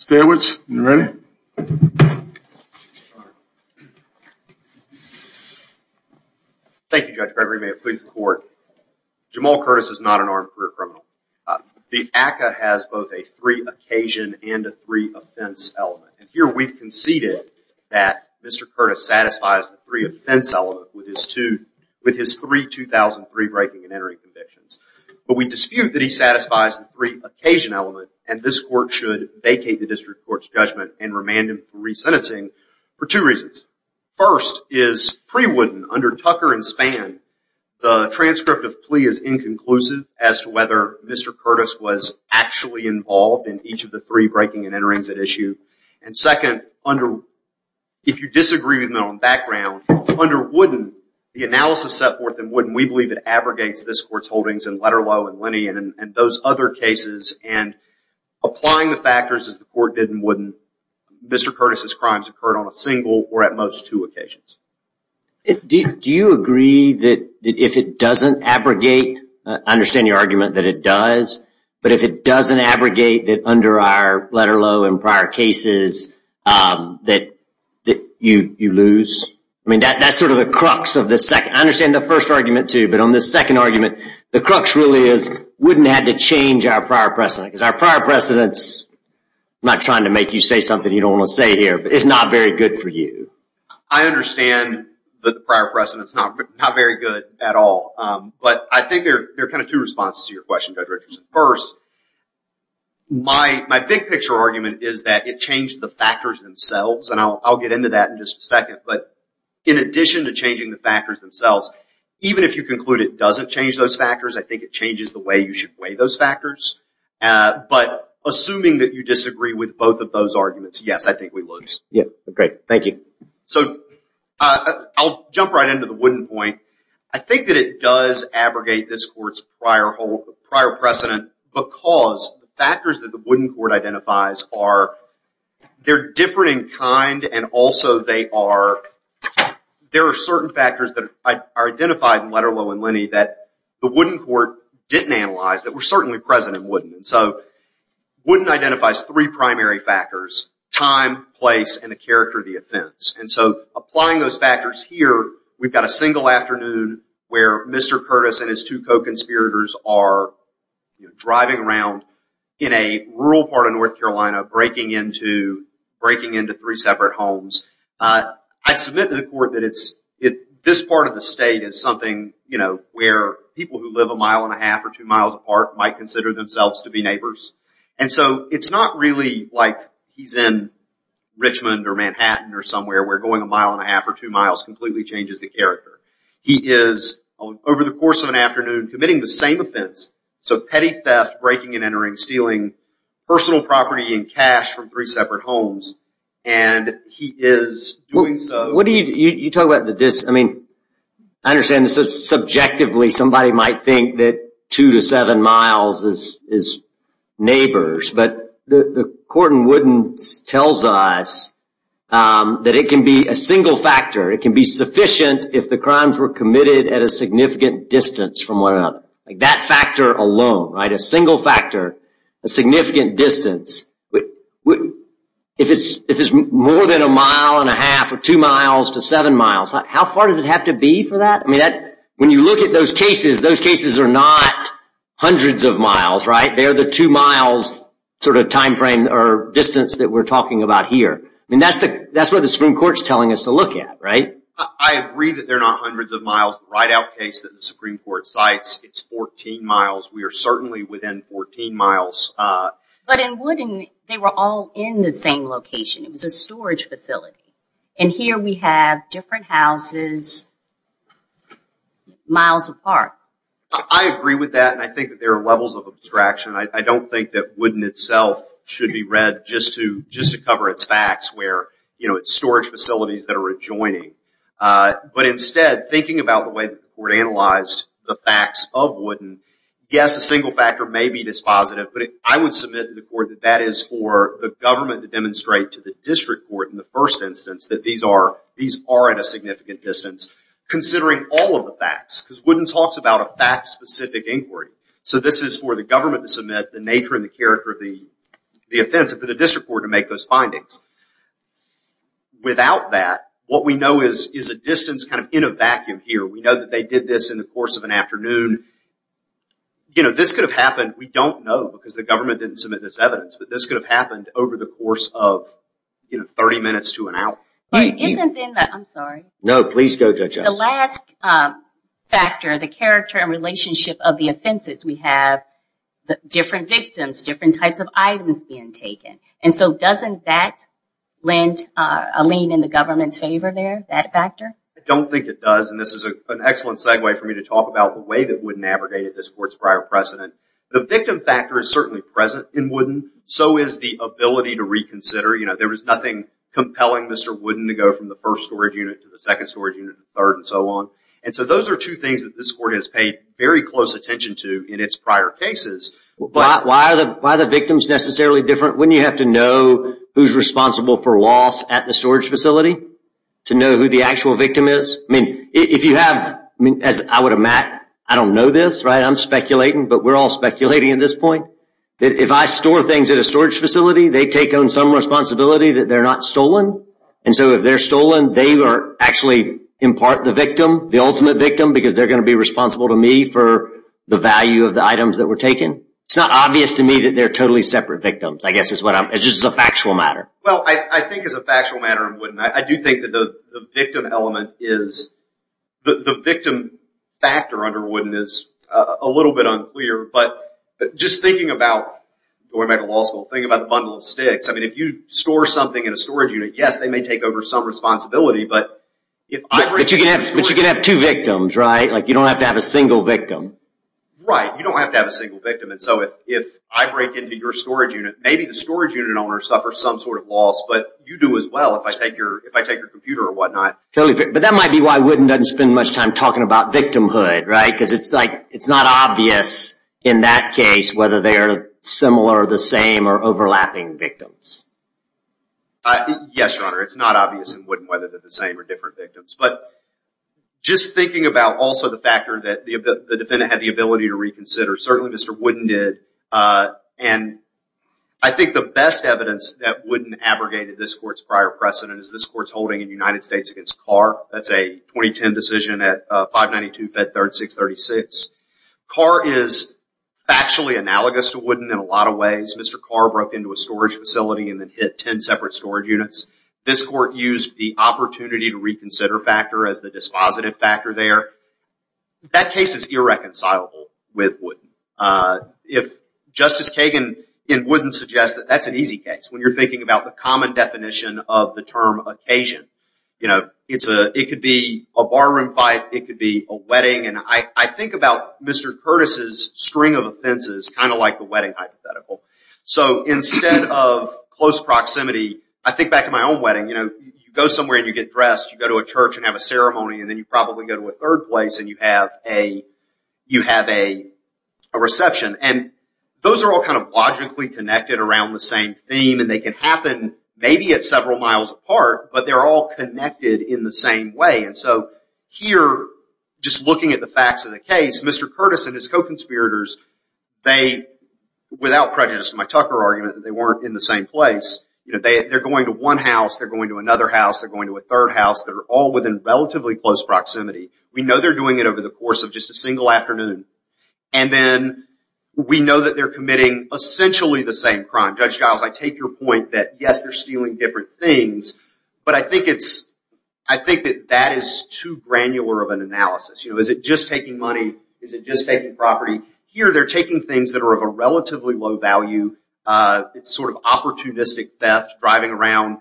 is not an armed career criminal. The ACCA has both a three occasion and a three offense element. Here we've conceded that Mr. Curtis satisfies the three offense element with his three 2003 breaking and entering convictions. But we dispute that he satisfies the three and remand him for resentencing for two reasons. First is pre-Wooden, under Tucker and Spann, the transcript of plea is inconclusive as to whether Mr. Curtis was actually involved in each of the three breaking and enterings at issue. And second, if you disagree with me on background, under Wooden, the analysis set forth in Wooden, we believe it abrogates this court's holdings in Letterlow and Lenny and those other cases. And applying the factors as the court did in Wooden, Mr. Curtis' crimes occurred on a single or at most two occasions. Do you agree that if it doesn't abrogate, I understand your argument that it does, but if it doesn't abrogate that under our Letterlow and prior cases that you lose? I mean, that's sort of the crux of the second. I understand the first argument too, but on the second argument, the crux really is Wooden had to change our prior precedent because our prior precedents, I'm not trying to make you say something you don't want to say here, but it's not very good for you. I understand that the prior precedent is not very good at all, but I think there are kind of two responses to your question, Judge Richardson. First, my big picture argument is that it changed the factors themselves, and I'll get into that in just a second. But in addition to changing the factors themselves, even if you conclude it doesn't change those factors, I think it changes the way you should weigh those factors. But assuming that you disagree with both of those arguments, yes, I think we lose. Great. Thank you. I'll jump right into the Wooden point. I think that it does abrogate this court's prior precedent because the factors that the Wooden court identifies are, they're different in kind and also they are, there are certain factors that are identified in Letterlow and Linney that the Wooden court didn't analyze that were certainly present in Wooden. Wooden identifies three primary factors, time, place, and the character of the offense. Applying those factors here, we've got a single afternoon where Mr. Curtis and his two co-conspirators are driving around in a rural part of North Carolina, breaking into three separate homes. I submit to the court that this part of the state is something where people who live a mile and a half or two miles apart might consider themselves to be neighbors. It's not really like he's in Richmond or Manhattan or somewhere where going a mile and a half or two miles completely changes the character. He is, over the course of an afternoon, committing the same offense. Petty theft, breaking and entering, stealing personal property and cash from three separate homes, and he is doing so. What do you, you talk about the distance, I mean, I understand this is subjectively somebody might think that two to seven miles is neighbors, but the court in Wooden tells us that it can be a single factor. It can be sufficient if the crimes were committed at a significant distance from one another. That factor alone, right, a single factor, a significant distance, if it's more than a mile and a half or two miles to seven miles, how far does it have to be for that? When you look at those cases, those cases are not hundreds of miles, right? They're the two miles sort of time frame or distance that we're talking about here. That's what the Supreme Court's telling us to look at, right? I agree that they're not hundreds of miles. The write-out case that the Supreme Court cites, it's 14 miles. We are certainly within 14 miles. But in Wooden, they were all in the same location. It was a storage facility. And here we have different houses miles apart. I agree with that, and I think that there are levels of abstraction. I don't think that Wooden itself should be read just to cover its facts where, you know, it's storage facilities that are adjoining. But instead, thinking about the way that the court analyzed the facts of Wooden, yes, a single factor may be dispositive, but I would submit to the court that that is for the government to demonstrate to the district court in the first instance that these are at a significant distance, considering all of the facts, because Wooden talks about a fact-specific inquiry. So this is for the government to submit, the nature and the character of the offense, and for the district court to make those findings. Without that, what we know is a distance kind of year. We know that they did this in the course of an afternoon. You know, this could have happened, we don't know because the government didn't submit this evidence, but this could have happened over the course of, you know, 30 minutes to an hour. Isn't in the, I'm sorry. No, please go, Judge Johnson. The last factor, the character and relationship of the offenses, we have different victims, different types of items being taken. And so doesn't that lend a lean in the government's favor there, that factor? I don't think it does, and this is an excellent segue for me to talk about the way that Wooden abrogated this court's prior precedent. The victim factor is certainly present in Wooden, so is the ability to reconsider. You know, there was nothing compelling Mr. Wooden to go from the first storage unit to the second storage unit, the third, and so on. And so those are two things that this court has paid very close attention to in its prior cases. But why are the victims necessarily different? Wouldn't you have to know who's responsible for loss at the storage facility to know who the actual victim is? I mean, if you have, as I would imagine, I don't know this, right? I'm speculating, but we're all speculating at this point. If I store things at a storage facility, they take on some responsibility that they're not stolen. And so if they're stolen, they are actually in part the victim, the ultimate victim, because they're going to be responsible to me for the value of the items that were taken. It's not obvious to me that they're totally separate victims. I guess it's just a factual matter. Well, I think it's a factual matter in Wooden. I do think that the victim element is, the victim factor under Wooden is a little bit unclear. But just thinking about going back to law school, thinking about the bundle of sticks, I mean, if you store something in a storage unit, yes, they may take over some responsibility, but if I bring it to the storage facility... But you can have two victims, right? Like, you don't have to have a single victim. Right. You don't have to have a single victim. And so if I break into your storage unit, maybe the storage unit owner suffers some sort of loss, but you do as well if I take your computer or whatnot. Totally. But that might be why Wooden doesn't spend much time talking about victimhood, right? Because it's like, it's not obvious in that case whether they're similar or the same or overlapping victims. Yes, Your Honor. It's not obvious in Wooden whether they're the same or different victims. But just thinking about also the factor that the defendant had the ability to reconsider, certainly Mr. Wooden did. And I think the best evidence that Wooden abrogated this court's prior precedent is this court's holding in the United States against Carr. That's a 2010 decision at 592-536-36. Carr is factually analogous to Wooden in a lot of ways. Mr. Carr broke into a storage facility and then hit 10 separate storage units. This court used the opportunity to reconsider factor as the dispositive factor there. That case is irreconcilable with Wooden. If Justice Kagan in Wooden suggests that, that's an easy case when you're thinking about the common definition of the term occasion. It could be a barroom fight. It could be a wedding. And I think about Mr. Curtis's string of offenses kind of like the wedding hypothetical. So instead of close proximity, I think back to my own wedding. You go somewhere and you get a ceremony and then you probably go to a third place and you have a reception. And those are all kind of logically connected around the same theme and they can happen maybe at several miles apart, but they're all connected in the same way. And so here, just looking at the facts of the case, Mr. Curtis and his co-conspirators, without prejudice to my Tucker argument that they weren't in the same place, they're going to one house, they're going to another house, they're going to a third house. They're all within relatively close proximity. We know they're doing it over the course of just a single afternoon. And then we know that they're committing essentially the same crime. Judge Giles, I take your point that yes, they're stealing different things, but I think that that is too granular of an analysis. Is it just taking money? Is it just taking property? Here, they're taking things that are of a relatively low value, sort of opportunistic theft, driving around,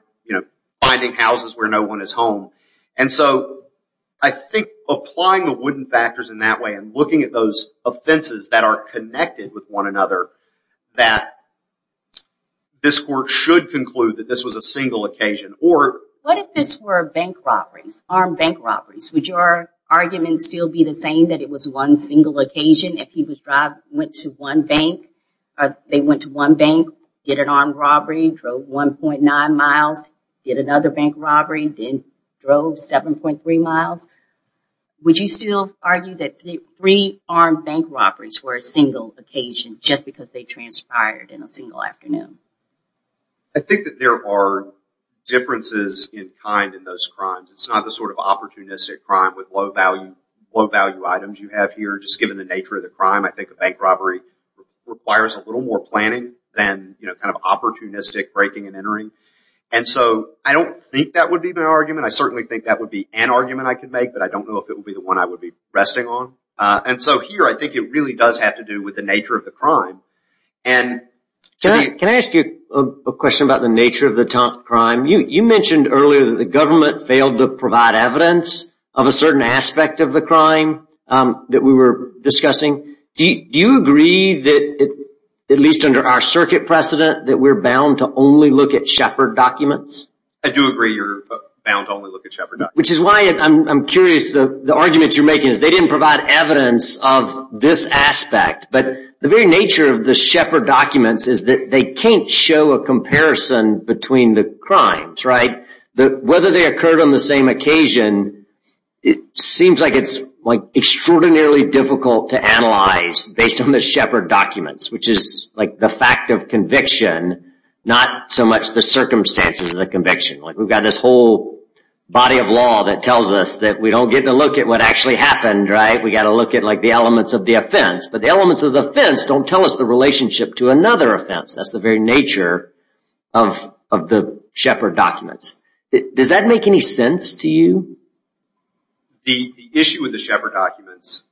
finding houses where no one is home. And so, I think applying the wooden factors in that way and looking at those offenses that are connected with one another, that this court should conclude that this was a single occasion. What if this were bank robberies, armed bank robberies? Would your argument still be the same that it was one single occasion if he went to one bank, they went to one bank, did an armed robbery, drove 1.9 miles, did another bank robbery, then drove 7.3 miles? Would you still argue that three armed bank robberies were a single occasion just because they transpired in a single afternoon? I think that there are differences in kind in those crimes. It's not the sort of opportunistic crime with low value items you have here. Just given the nature of the crime, I think a bank robbery requires a little more planning than opportunistic breaking and entering. I don't think that would be my argument. I certainly think that would be an argument I could make, but I don't know if it would be the one I would be resting on. Here, I think it really does have to do with the nature of the crime. Can I ask you a question about the nature of the crime? You mentioned earlier that the government failed to provide evidence of a certain aspect of the crime that we were discussing. Do you agree that, at least under our circuit precedent, that we're bound to only look at Shepard documents? I do agree you're bound to only look at Shepard documents. Which is why I'm curious. The argument you're making is they didn't provide evidence of this aspect, but the very nature of the Shepard documents is that they can't show a comparison between the crimes. Whether they occurred on the same occasion, it seems like it's extraordinarily difficult to analyze based on the Shepard documents, which is the fact of conviction, not so much the circumstances of the conviction. We've got this whole body of law that tells us that we don't get to look at what actually happened. We've got to look at the elements of the offense, but the elements of the offense don't tell us the relationship to another offense. That's the very nature of the Shepard documents. Does that make any sense to you? The issue with the Shepard documents,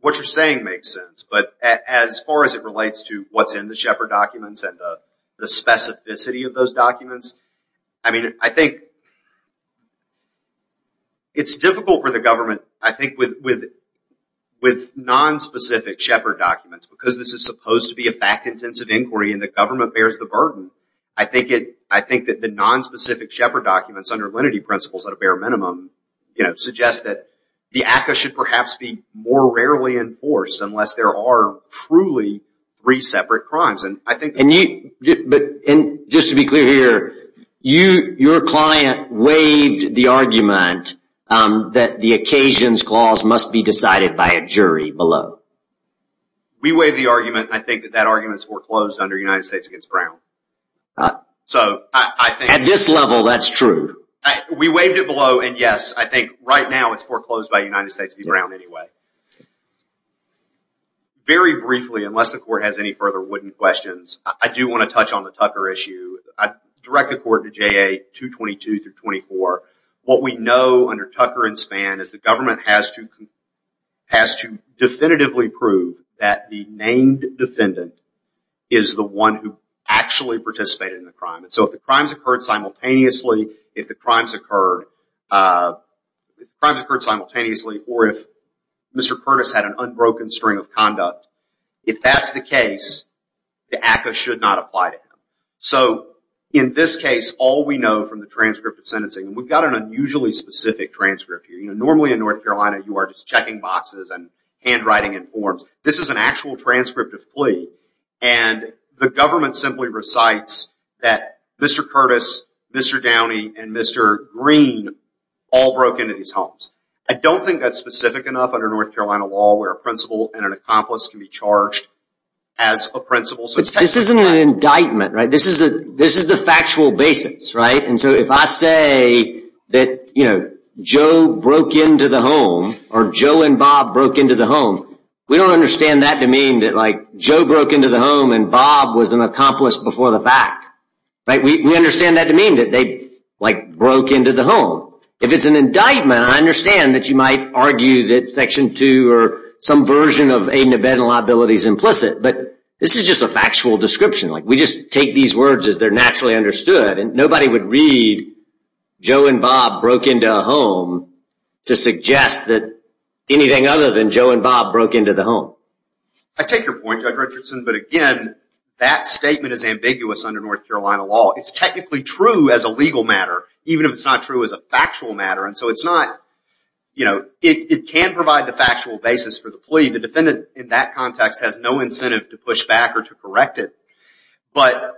what you're saying makes sense, but as far as it relates to what's in the Shepard documents and the specificity of those documents, I think it's difficult for the government. I think with nonspecific Shepard documents, because this is supposed to be a fact-intensive inquiry and the government bears the burden, I think that the nonspecific Shepard documents under lenity principles at a bare minimum suggest that the ACCA should perhaps be more rarely enforced unless there are truly three separate crimes. Just to be clear here, your client waived the argument that the occasions clause must be decided by a jury below. We waived the argument. I think that that was foreclosed under United States v. Brown. At this level, that's true. We waived it below, and yes, I think right now it's foreclosed by United States v. Brown anyway. Very briefly, unless the court has any further wooden questions, I do want to touch on the Tucker issue. I direct the court to JA 222 through 24. What we know under Tucker and Spann is the one who actually participated in the crime. If the crimes occurred simultaneously or if Mr. Curtis had an unbroken string of conduct, if that's the case, the ACCA should not apply to him. In this case, all we know from the transcript of sentencing, we've got an unusually specific transcript here. Normally in North Carolina, you are just checking boxes and handwriting in forms. This is an actual transcript of plea. The government simply recites that Mr. Curtis, Mr. Downey, and Mr. Green all broke into these homes. I don't think that's specific enough under North Carolina law where a principal and an accomplice can be charged as a principal. This isn't an indictment. This is the factual basis. If I say that Joe broke into the home or Joe and Bob broke into the home, we don't understand that to mean that Joe broke into the home and Bob was an accomplice before the fact. We understand that to mean that they broke into the home. If it's an indictment, I understand that you might argue that Section 2 or some version of aid-in-the-bed liability is implicit, but this is just a factual description. We just take these words as they're naturally understood. Nobody would read Joe and Bob broke into a home. Anything other than Joe and Bob broke into the home. I take your point, Judge Richardson, but again, that statement is ambiguous under North Carolina law. It's technically true as a legal matter, even if it's not true as a factual matter. It can provide the factual basis for the plea. The defendant in that context has no incentive to push back or to correct it, but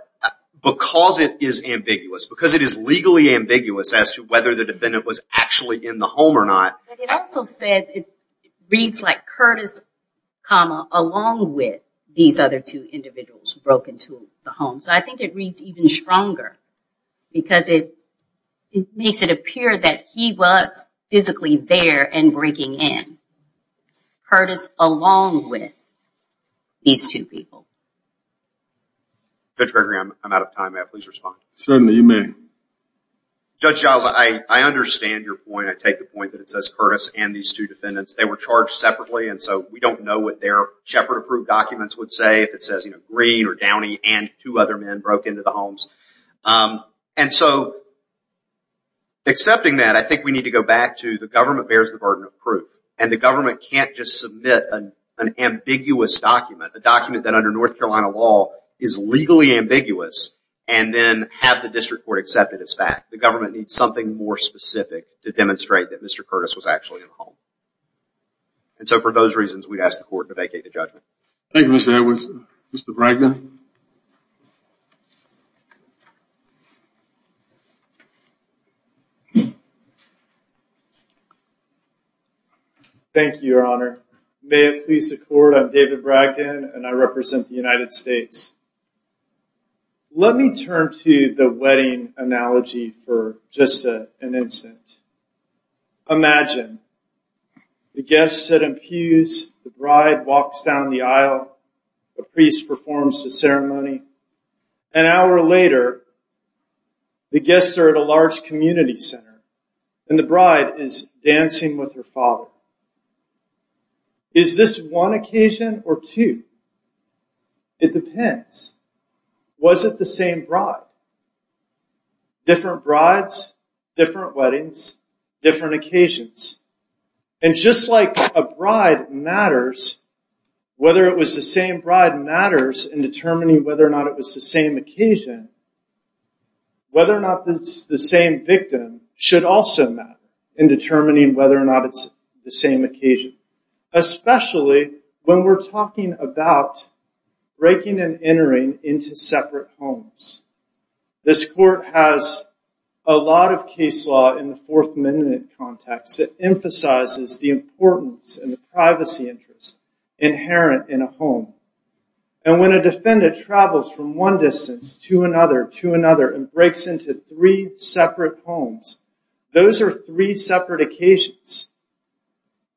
because it is ambiguous, because it is legally ambiguous as to whether the defendant was actually in the home or not. It also says, it reads like Curtis, comma, along with these other two individuals who broke into the home. I think it reads even stronger because it makes it appear that he was physically there and breaking in. Curtis along with these two people. Judge Gregory, I'm out of time. Please respond. Certainly, you may. Judge Giles, I understand your point. I take the point that it says Curtis and these two defendants. They were charged separately, and so we don't know what their Shepard approved documents would say if it says Green or Downey and two other men broke into the homes. Accepting that, I think we need to go back to the government bears the burden of proof. The government can't just submit an ambiguous document, a document that under North Carolina law is legally ambiguous and then have the district court accept it as fact. The government needs something more specific to demonstrate that Mr. Curtis was actually in the home. For those reasons, we'd ask the court to vacate the judgment. Thank you, Mr. Edwards. Mr. Bragdon? Thank you, Your Honor. May it please the court, I'm David Bragdon, and I represent the United States. Let me turn to the wedding analogy for just an instant. Imagine the guests sit in pews, the bride walks down the aisle, the priest performs the ceremony. An hour later, the guests are at a large community center and the bride is dancing with her father. Is this one occasion or two? It depends. Was it the same bride? Different brides, different weddings, different occasions. Just like a bride matters, whether it was the same bride matters in determining whether or not it was the same occasion, whether or not it was the same occasion. Especially when we're talking about breaking and entering into separate homes. This court has a lot of case law in the Fourth Amendment context that emphasizes the importance and the privacy interest inherent in a home. And when a defendant travels from one distance to another, to another, and breaks into three separate occasions,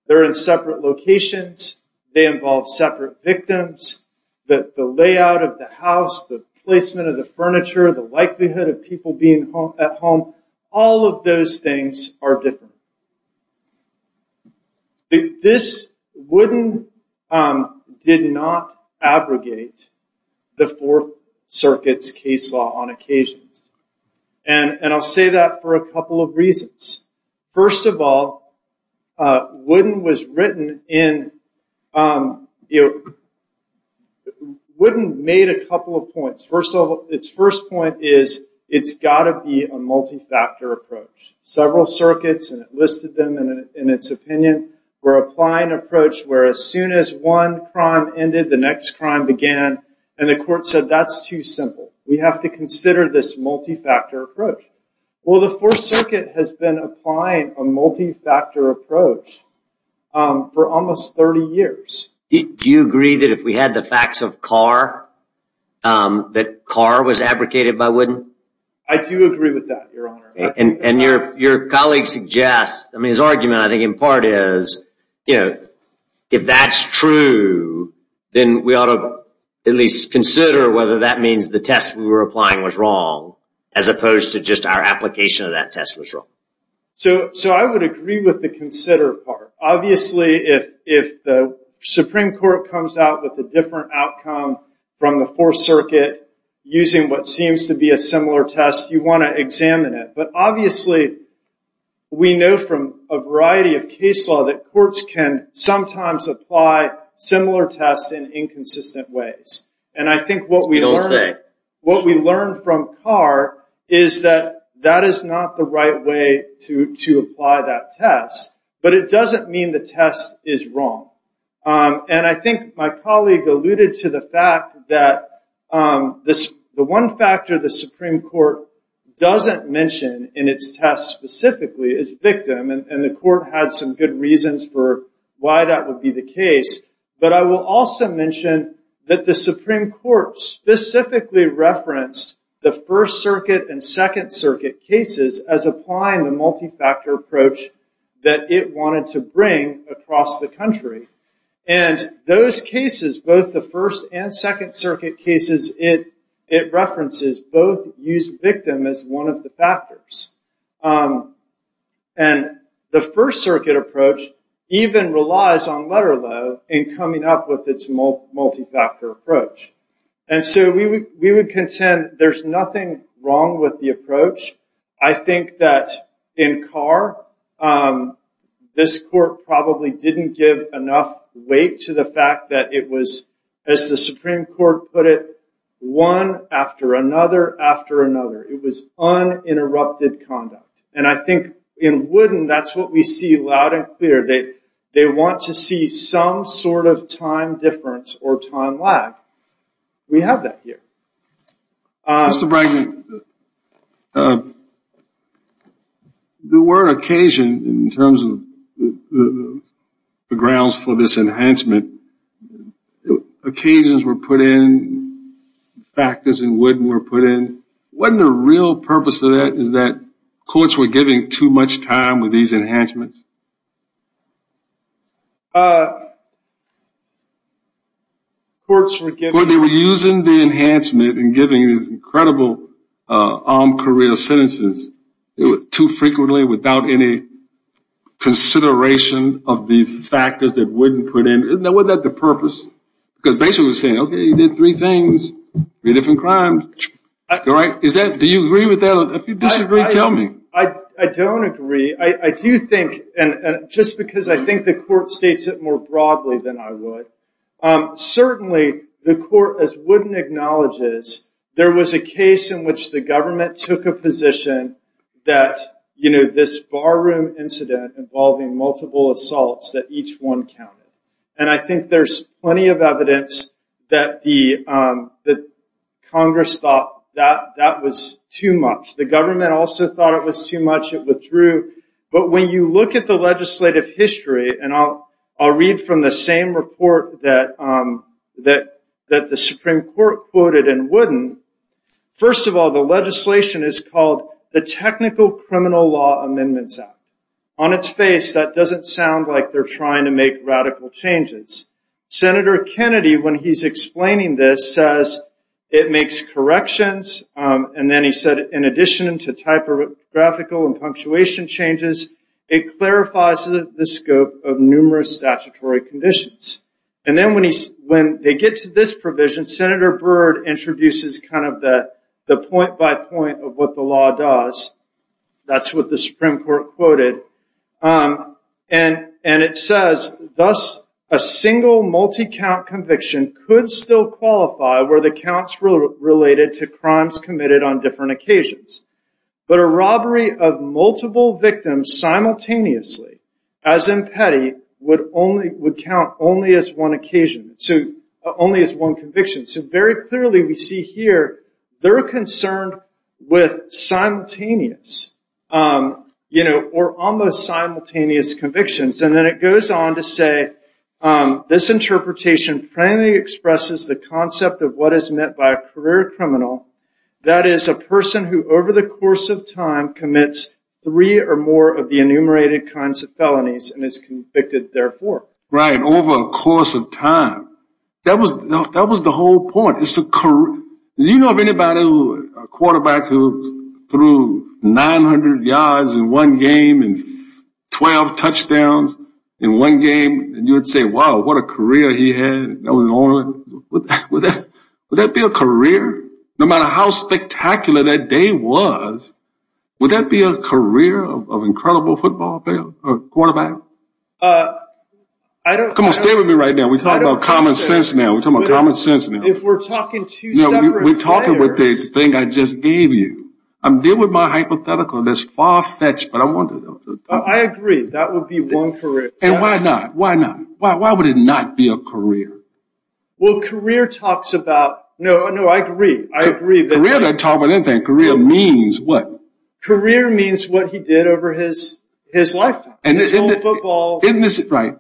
they're in separate locations, they involve separate victims, the layout of the house, the placement of the furniture, the likelihood of people being at home, all of those things are different. This wouldn't, did not abrogate the Fourth Amendment. First of all, Wooden was written in, Wooden made a couple of points. First of all, its first point is, it's got to be a multi-factor approach. Several circuits, and it listed them in its opinion, were applying an approach where as soon as one crime ended, the next crime began, and the court said, that's too simple. We have to consider this multi-factor approach. Well, the Fourth Circuit has been applying a multi-factor approach for almost 30 years. Do you agree that if we had the facts of Carr, that Carr was abrogated by Wooden? I do agree with that, Your Honor. And your colleague suggests, I mean his argument I think in part is, if that's true, then we ought to at least consider whether that means the test we were applying was wrong, as opposed to just our application of that test was wrong. So I would agree with the consider part. Obviously, if the Supreme Court comes out with a different outcome from the Fourth Circuit, using what seems to be a similar test, you want to examine it. But obviously, we know from a variety of case law that courts can sometimes apply similar tests in inconsistent ways. And I think what we learned from Carr is that that is not the right way to apply that test, but it doesn't mean the test is wrong. And I think my colleague alluded to the fact that the one factor the Supreme Court doesn't mention in its test specifically is victim, and the court had some good reasons for why that would be the case. But I will also mention that the Supreme Court specifically referenced the First Circuit and Second Circuit cases as applying the multi-factor approach that it wanted to bring across the country. And those cases, both the First and Second Circuit cases it references, both use victim as one of the factors. And the First Circuit approach even relies on letter law in coming up with its multi-factor approach. And so we would contend there's nothing wrong with the approach. I think that in Carr, this court probably didn't give enough weight to the fact that it was, as the Supreme Court put it, one after another after another. It was uninterrupted conduct. And I think in Wooden, that's what we see loud and clear. They want to see some sort of time difference or time lag. We have that here. Mr. Bregman, the word occasion in terms of the grounds for this enhancement, occasions were put in, factors in Wooden were put in. Wasn't the real purpose of that is that courts were giving too much time with these enhancements? Courts were using the enhancement and giving these incredible on-career sentences too frequently without any consideration of the factors that Wooden put in. Wasn't that the purpose? Because basically we're saying, okay, you did three different things, three different crimes. Do you agree with that? If you disagree, tell me. I don't agree. I do think, and just because I think the court states it more broadly than I would, certainly the court, as Wooden acknowledges, there was a case in which the government took a position that this bar room incident involving multiple assaults, that each one counted. I think there's plenty of evidence that Congress thought that that was too much. The government also thought it was too much. It withdrew. But when you look at the legislative history, and I'll read from the same report that the Supreme Court quoted in Wooden, first of all, the legislation is called the Technical Criminal Law Amendments Act. On its face, that doesn't sound like they're trying to make radical changes. Senator Kennedy, when he's explaining this, says it makes corrections. Then he said, in addition to typographical and punctuation changes, it clarifies the scope of numerous statutory conditions. Then when they get to this provision, Senator Byrd introduces the point by point of what the law does. That's what the Supreme Court quoted. It says, thus, a single multi-count conviction could still qualify where the counts were related to crimes committed on different occasions. But a robbery of multiple victims simultaneously, as in Petty, would count only as one occasion, only as one conviction. Very clearly, we see here, they're concerned with simultaneous or almost simultaneous convictions. Then it goes on to say, this interpretation plainly expresses the concept of what is meant by a career criminal. That is a person who, over the course of time, commits three or more of the enumerated kinds of felonies and is convicted therefore. Right, over a course of time. That was the whole point. Do you know of anybody, a quarterback, who threw 900 yards in one game and 12 touchdowns in one game? You would say, wow, what a career he had. Would that be a career? No matter how spectacular that day was, would that be a career of incredible football player, quarterback? Come on, stay with me right now. We're talking about common sense now. If we're talking two separate players. No, we're talking about this thing I just gave you. I'm dealing with my hypothetical, and it's far-fetched, but I want to know. I agree. That would be one career. Why not? Why not? Why would it not be a career? Well, career talks about... No, no, I agree. Career doesn't talk about anything. Career means what? Career means what he did over his lifetime. Right.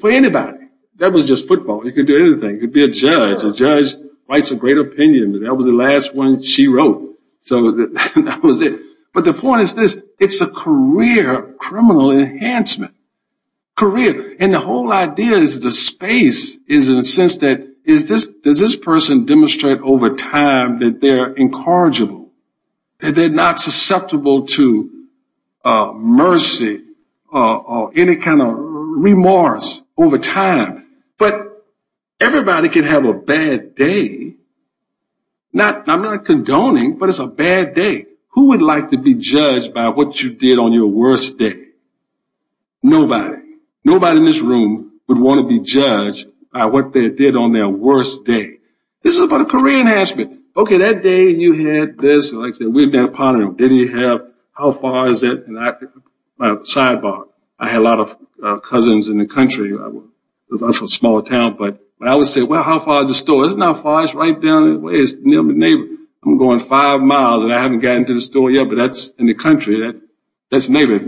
For anybody. That was just football. He could do anything. He could be a judge. A judge writes a great opinion, but that was the last one she wrote. So that was it. But the point is this. It's a career of criminal enhancement. Career. And the whole idea is the space is in a sense that, does this person demonstrate over time that they're incorrigible? That they're not susceptible to mercy or any kind of remorse over time? But everybody can have a bad day. I'm not condoning, but it's a bad day. Who would like to be judged by what you did on your worst day? Nobody. Nobody in this room would want to be judged by what they did on their worst day. This is about a career enhancement. Okay, that day you had this. We've been pondering. Did he have... How far is it? Sidebar. I had a lot of cousins in the country. I was from a smaller town, but I would say, well, how far is the store? Isn't that far? It's right down the way. It's near my neighbor. I'm going five miles, and I haven't gotten to the store yet, but that's in the country. That's a neighbor.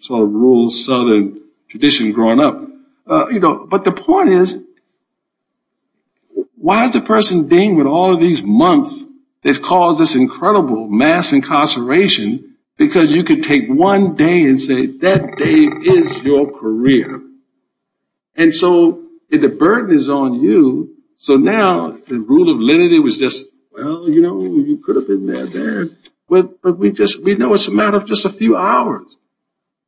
Sort of rural southern tradition growing up. But the point is, why is the person dealing with all of these months that's caused this incredible mass incarceration? Because you could take one day and say, that day is your career. And so if the burden is on you, so now the rule of lenity was just, well, you know, you could have been that day. But we just... We know it's a matter of just a few hours.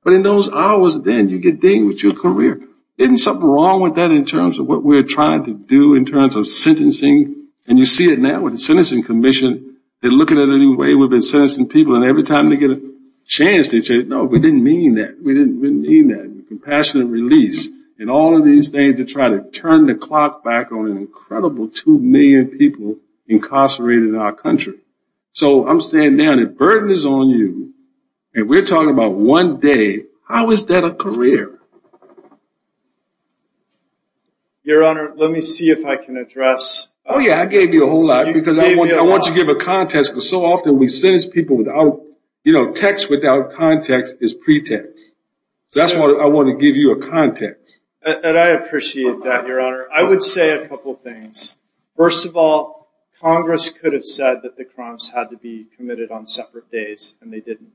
But in those hours then, you get dealing with your career. Isn't something wrong with that in terms of what we're trying to do in this country? You see it now with the Sentencing Commission. They're looking at it any way we've been sentencing people, and every time they get a chance, they say, no, we didn't mean that. We didn't mean that. Compassionate release. And all of these things to try to turn the clock back on an incredible two million people incarcerated in our country. So I'm saying now, the burden is on you, and we're talking about one day. How is that a career? Your Honor, let me see if I can address... Oh yeah, I gave you a whole lot, because I want you to give a context, because so often we sentence people without... You know, text without context is pretext. That's why I want to give you a context. And I appreciate that, Your Honor. I would say a couple things. First of all, Congress could have said that the crimes had to be committed on separate days, and they didn't.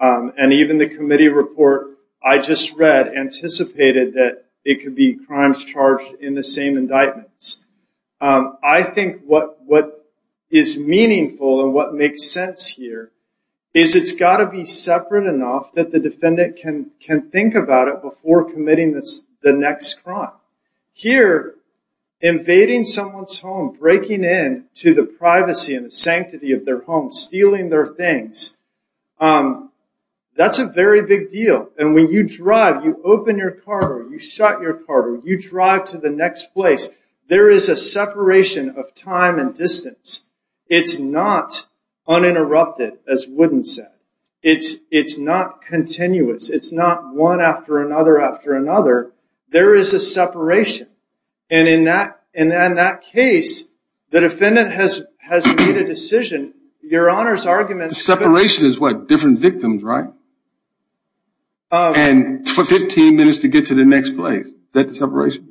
And even the committee report I just read anticipated that it could be crimes charged in the same indictments. I think what is meaningful and what makes sense here is it's got to be separate enough that the defendant can think about it before committing the next crime. Here, invading someone's home, breaking in to the privacy and the sanctity of their home, stealing their things, that's a very big deal. And when you drive, you open your car door, you shut your car door, you drive to the next place, there is a separation of time and distance. It's not uninterrupted, as Wooden said. It's not continuous. It's not one after another after another. There is a separation. And in that case, the defendant has made a decision. Your Honor's argument is that... Separation is what? Different victims, right? And 15 minutes to get to the next place. Is that the separation?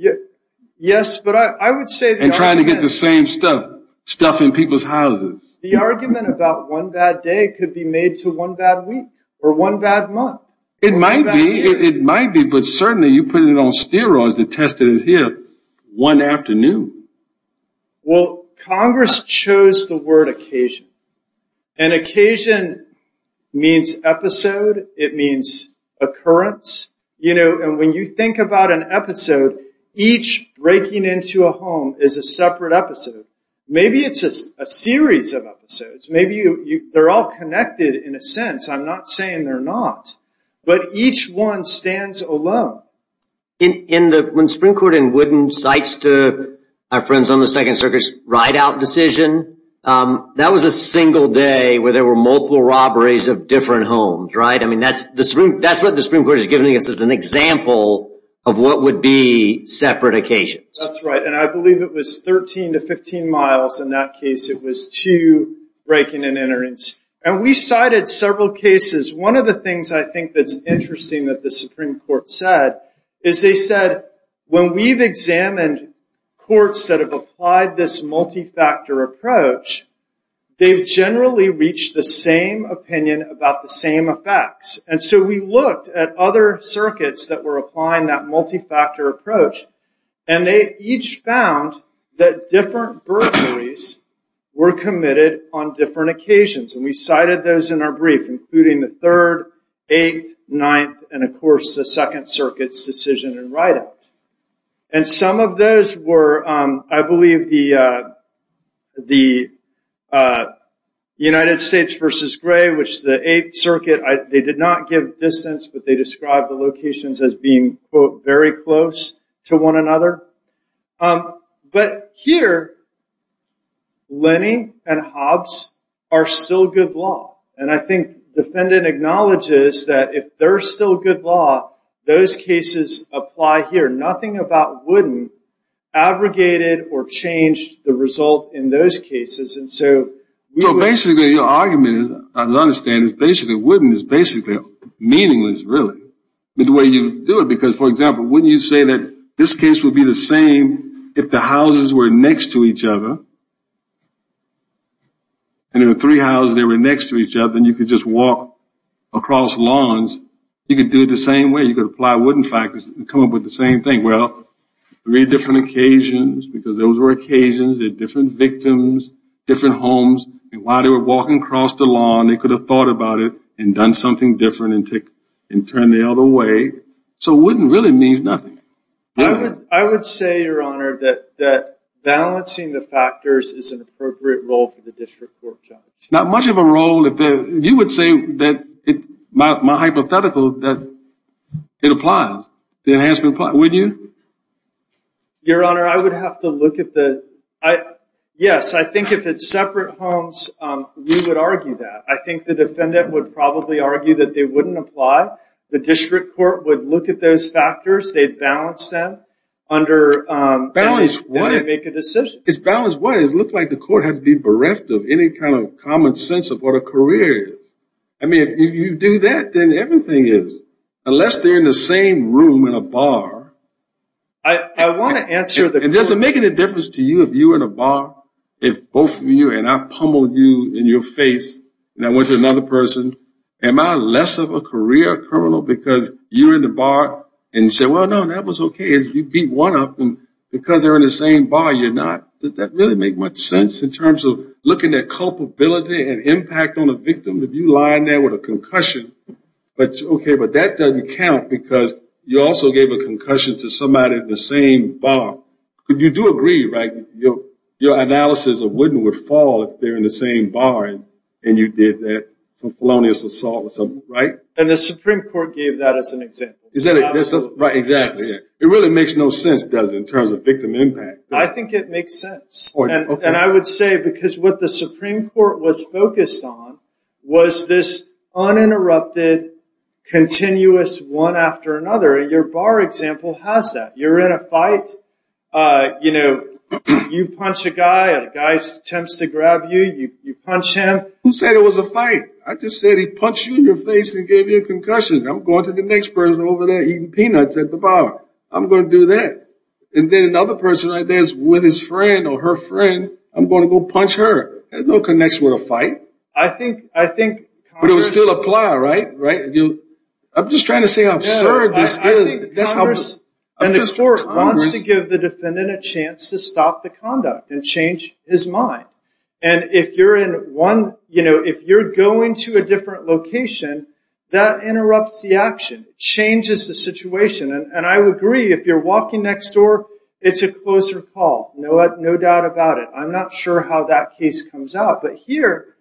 Yes, but I would say... And trying to get the same stuff, stuff in people's houses. The argument about one bad day could be made to one bad week, or one bad month. It might be, it might be, but certainly you put it on steroids, the test that is here, one afternoon. Well, Congress chose the word occasion. And occasion means episode, it means occurrence. You know, and when you think about an episode, each breaking into a home is a separate episode. Maybe it's a series of episodes. Maybe they're all connected in a sense. I'm not saying they're not. But each one stands alone. When the Supreme Court in Wooden cites to our friends on the Second Circuit's ride-out decision, that was a single day where there were multiple robberies of different homes, right? I mean, that's what the Supreme Court is giving us as an example of what would be separate occasions. That's right. And I believe it was 13 to 15 miles in that case. It was two breaking and enterings. And we cited several cases. One of the things I think that's interesting that the Supreme Court said is they said, when we've examined courts that have applied this multi-factor approach, they've generally reached the same opinion about the same effects. And so we looked at other circuits that were applying that multi-factor approach, and they each found that different burglaries were committed on different occasions. And we cited those in our brief, including the Third, Eighth, Ninth, and of course, the Second Circuit's decision in ride-out. And some of those were, I believe, the United States versus Gray, which the Eighth Circuit, they did not give distance, but they described the locations as being, quote, very close to one another. But here, Lenny and Hobbs are still good law. And I think the defendant acknowledges that if they're still good law, those cases apply here. Nothing about Wooden abrogated or changed the result in those cases. And so, you know, basically, your argument, as I understand it, is basically, Wooden is basically meaningless, really, the way you do it. Because, for example, wouldn't you say that this case would be the same if the houses were next to each other? And if there were three houses that were next to each other, and you could just walk across lawns, you could do it the same way. You could apply Wooden factors and come up with the same thing. Well, three different occasions, because those were occasions. They're different victims, different homes. And while they were walking across the lawn, they could have thought about it and done something different and turned the other way. So Wooden really means nothing. I would say, Your Honor, that balancing the factors is an appropriate role for the district court judge. Not much of a role. You would say that, my hypothetical, that it applies. The enhancement applies. Wouldn't you? Your Honor, I would have to look at the... Yes, I think if it's separate homes, we would probably argue that they wouldn't apply. The district court would look at those factors. They'd balance them under... Balance what? ...and make a decision. It's balance what? It looks like the court has to be bereft of any kind of common sense of what a career is. I mean, if you do that, then everything is... Unless they're in the same room in a bar. I want to answer the... And does it make any difference to you if you were in a bar, if both of you, and I pummeled you in your face, and I went to another person, am I less of a career criminal because you're in the bar? And you say, Well, no, that was okay. You beat one of them. Because they're in the same bar, you're not. Does that really make much sense in terms of looking at culpability and impact on a victim? If you lie in there with a concussion, okay, but that doesn't count because you also gave a concussion to somebody in the same bar. You do agree, right? Your analysis of wooden would fall if they're in the same bar, and you did that for felonious assault or something, right? And the Supreme Court gave that as an example. Is that it? Right, exactly. It really makes no sense, does it, in terms of victim impact. I think it makes sense. And I would say because what the Supreme Court was focused on was this uninterrupted, continuous one after another. Your bar example has that. You're in a fight you know, you punch a guy, a guy attempts to grab you, you punch him. Who said it was a fight? I just said he punched you in the face and gave you a concussion. I'm going to the next person over there eating peanuts at the bar. I'm going to do that. And then another person right there is with his friend or her friend, I'm going to go punch her. There's no connection with a fight. I think Congress... But it would still apply, right? I'm just extending a chance to stop the conduct and change his mind. And if you're in one, you know, if you're going to a different location, that interrupts the action, changes the situation. And I would agree, if you're walking next door, it's a closer call. No doubt about it. I'm not sure how that case comes out. But here,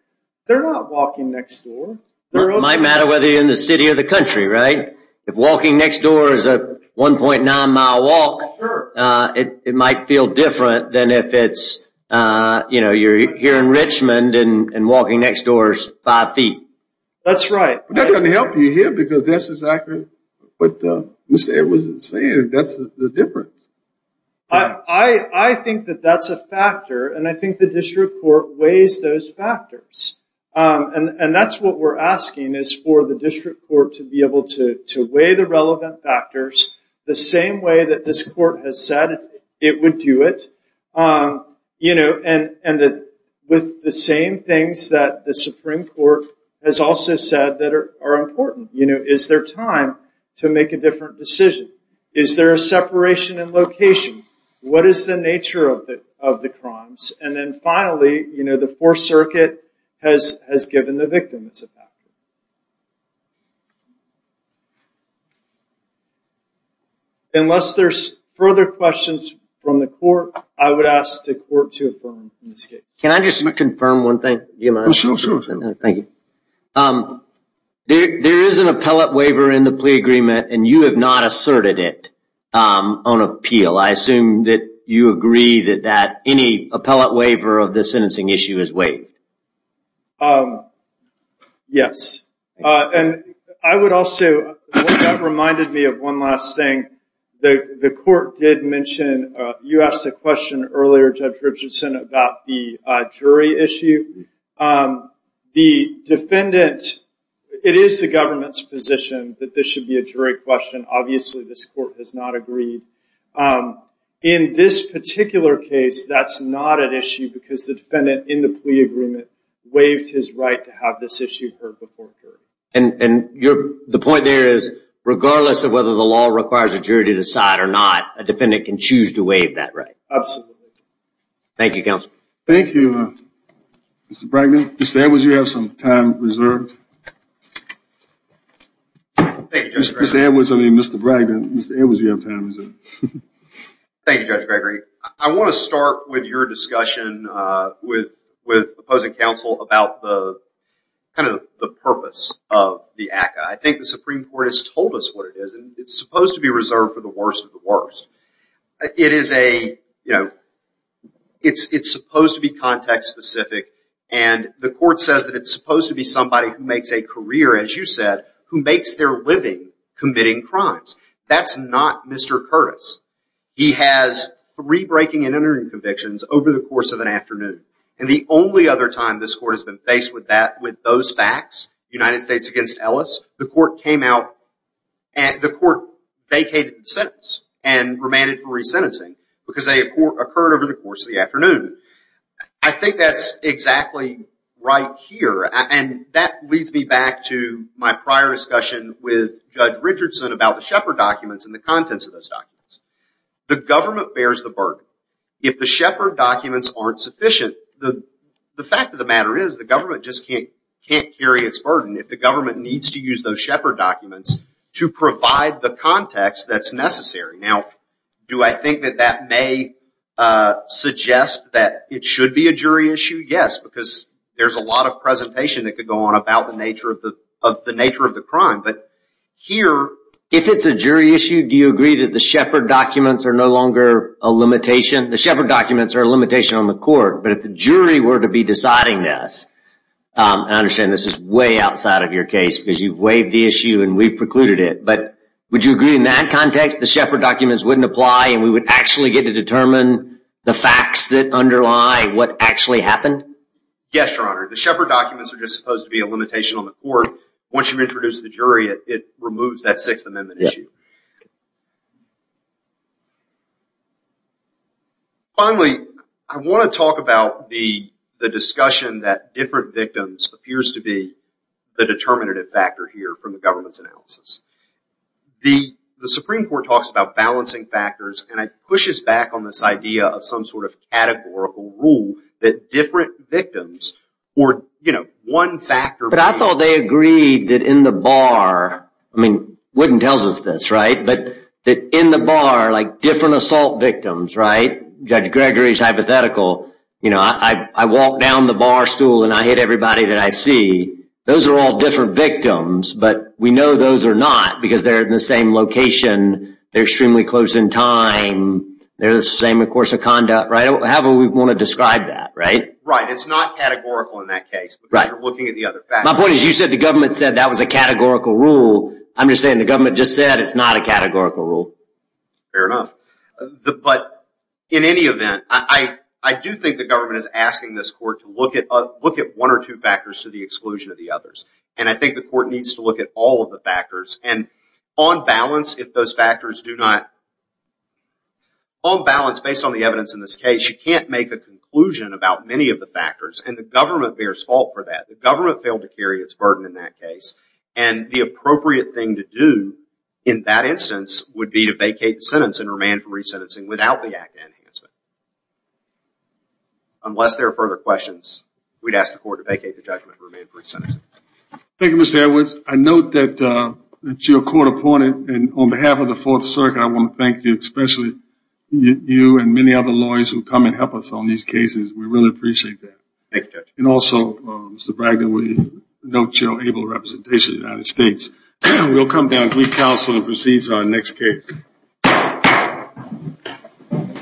they're not walking next door. It might matter whether you're in the city or the country, right? If walking next door is a 1.9 mile walk, it might feel different than if it's, you know, you're here in Richmond and walking next door is five feet. That's right. That doesn't help you here because this is accurate. But Mr. Edwards is saying that's the difference. I think that that's a factor. And I think the district court weighs those factors. And that's what we're asking is for the district court to be able to weigh the relevant factors the same way that this court has said it would do it. You know, and with the same things that the Supreme Court has also said that are important. You know, is there time to make a different decision? Is there a separation in location? What is the nature of the crimes? And then finally, you know, the Fourth Circuit has given the victim as a factor. Unless there's further questions from the court, I would ask the court to affirm in this case. Can I just confirm one thing? Sure, sure, sure. Thank you. There is an appellate waiver in the plea agreement, and you have not asserted it on appeal. I assume that you agree that any appellate waiver of this sentencing issue is waived. Yes. And I would also, that reminded me of one last thing. The court did mention, you asked a question earlier, Judge Richardson, about the jury issue. The defendant, it is the government's position that this should be a jury question. Obviously, this court has not agreed. In this particular case, that's not an issue because the defendant in the plea agreement waived his right to have this issue heard before a jury. And the point there is, regardless of whether the law requires a jury to decide or not, a defendant can choose to waive that right. Absolutely. Thank you, Counselor. Thank you, Mr. Bragdon. Mr. Edwards, you have some time reserved. Mr. Edwards, I mean, Mr. Bragdon, Mr. Edwards, thank you. Thank you, Judge Gregory. I want to start with your discussion with opposing counsel about the purpose of the ACCA. I think the Supreme Court has told us what it is, and it's supposed to be reserved for the worst of the worst. It's supposed to be context-specific, and the court says that it's supposed to be somebody who makes a career, as you said, who makes their living committing crimes. That's not Mr. Curtis. He has three breaking and entering convictions over the course of an afternoon. And the only other time this court has been faced with that, with those facts, United States against Ellis, the court came out, the court vacated the sentence and remanded for resentencing because they occurred over the course of the afternoon. I think that's exactly right here, and that leads me back to my prior discussion with Judge Richardson about the Shepard documents and the contents of those documents. The government bears the burden. If the Shepard documents aren't sufficient, the fact of the matter is, the government just can't carry its burden if the government needs to use those Shepard documents to provide the context that's necessary. Now, do I think that that may suggest that it should be a jury issue? Yes, because there's a lot of presentation that could go on about the nature of the crime, but here... If it's a jury issue, do you agree that the Shepard documents are no longer a limitation? The Shepard documents are a limitation on the court, but if the jury were to be deciding this, and I understand this is way outside of your case because you've waived the issue and we've precluded it, but would you agree in that context the Shepard documents wouldn't apply and we would actually get to determine the facts that underlie what actually happened? Yes, Your Honor. The Shepard documents are just supposed to be a limitation on the court. Once you've introduced the jury, it removes that Sixth Amendment issue. Finally, I want to talk about the discussion that different victims appears to be the determinative factor here from the government's analysis. The Supreme Court talks about balancing factors and it pushes back on this idea of some sort of categorical rule that different victims or one factor... But I thought they agreed that in the bar... Wooden tells us this, but in the bar, different assault victims, Judge Gregory's hypothetical, I walk down the barstool and I hit everybody that I see. Those are all different victims, but we know those are not because they're in the same location, they're extremely close in time, they're the same in course of conduct, right? However we want to describe that, right? Right. It's not categorical in that case because you're looking at the other factors. My point is you said the government said that was a categorical rule. I'm just saying the government just said it's not a categorical rule. Fair enough. But in any event, I do think the government is asking this court to look at one or two factors to the exclusion of the others. I think the court needs to look at all of the factors and on balance, if those factors do not... On balance, based on the evidence in this case, you can't make a conclusion about many of the factors and the government bears fault for that. The government failed to carry its burden in that case. The appropriate thing to do in that instance would be to vacate the sentence and remand for resentencing without the act of enhancement. Unless there are further questions, we'd ask the court to vacate the judgment and remand for resentencing. Thank you, Mr. Edwards. I note that you're a court opponent and on behalf of the Fourth Circuit, I want to thank you, especially you and many other lawyers who come and help us on these cases. We really appreciate that. Thank you, Judge. And also, Mr. Bragg, we note your able representation in the United States. We'll come down to the council and proceed to our next case.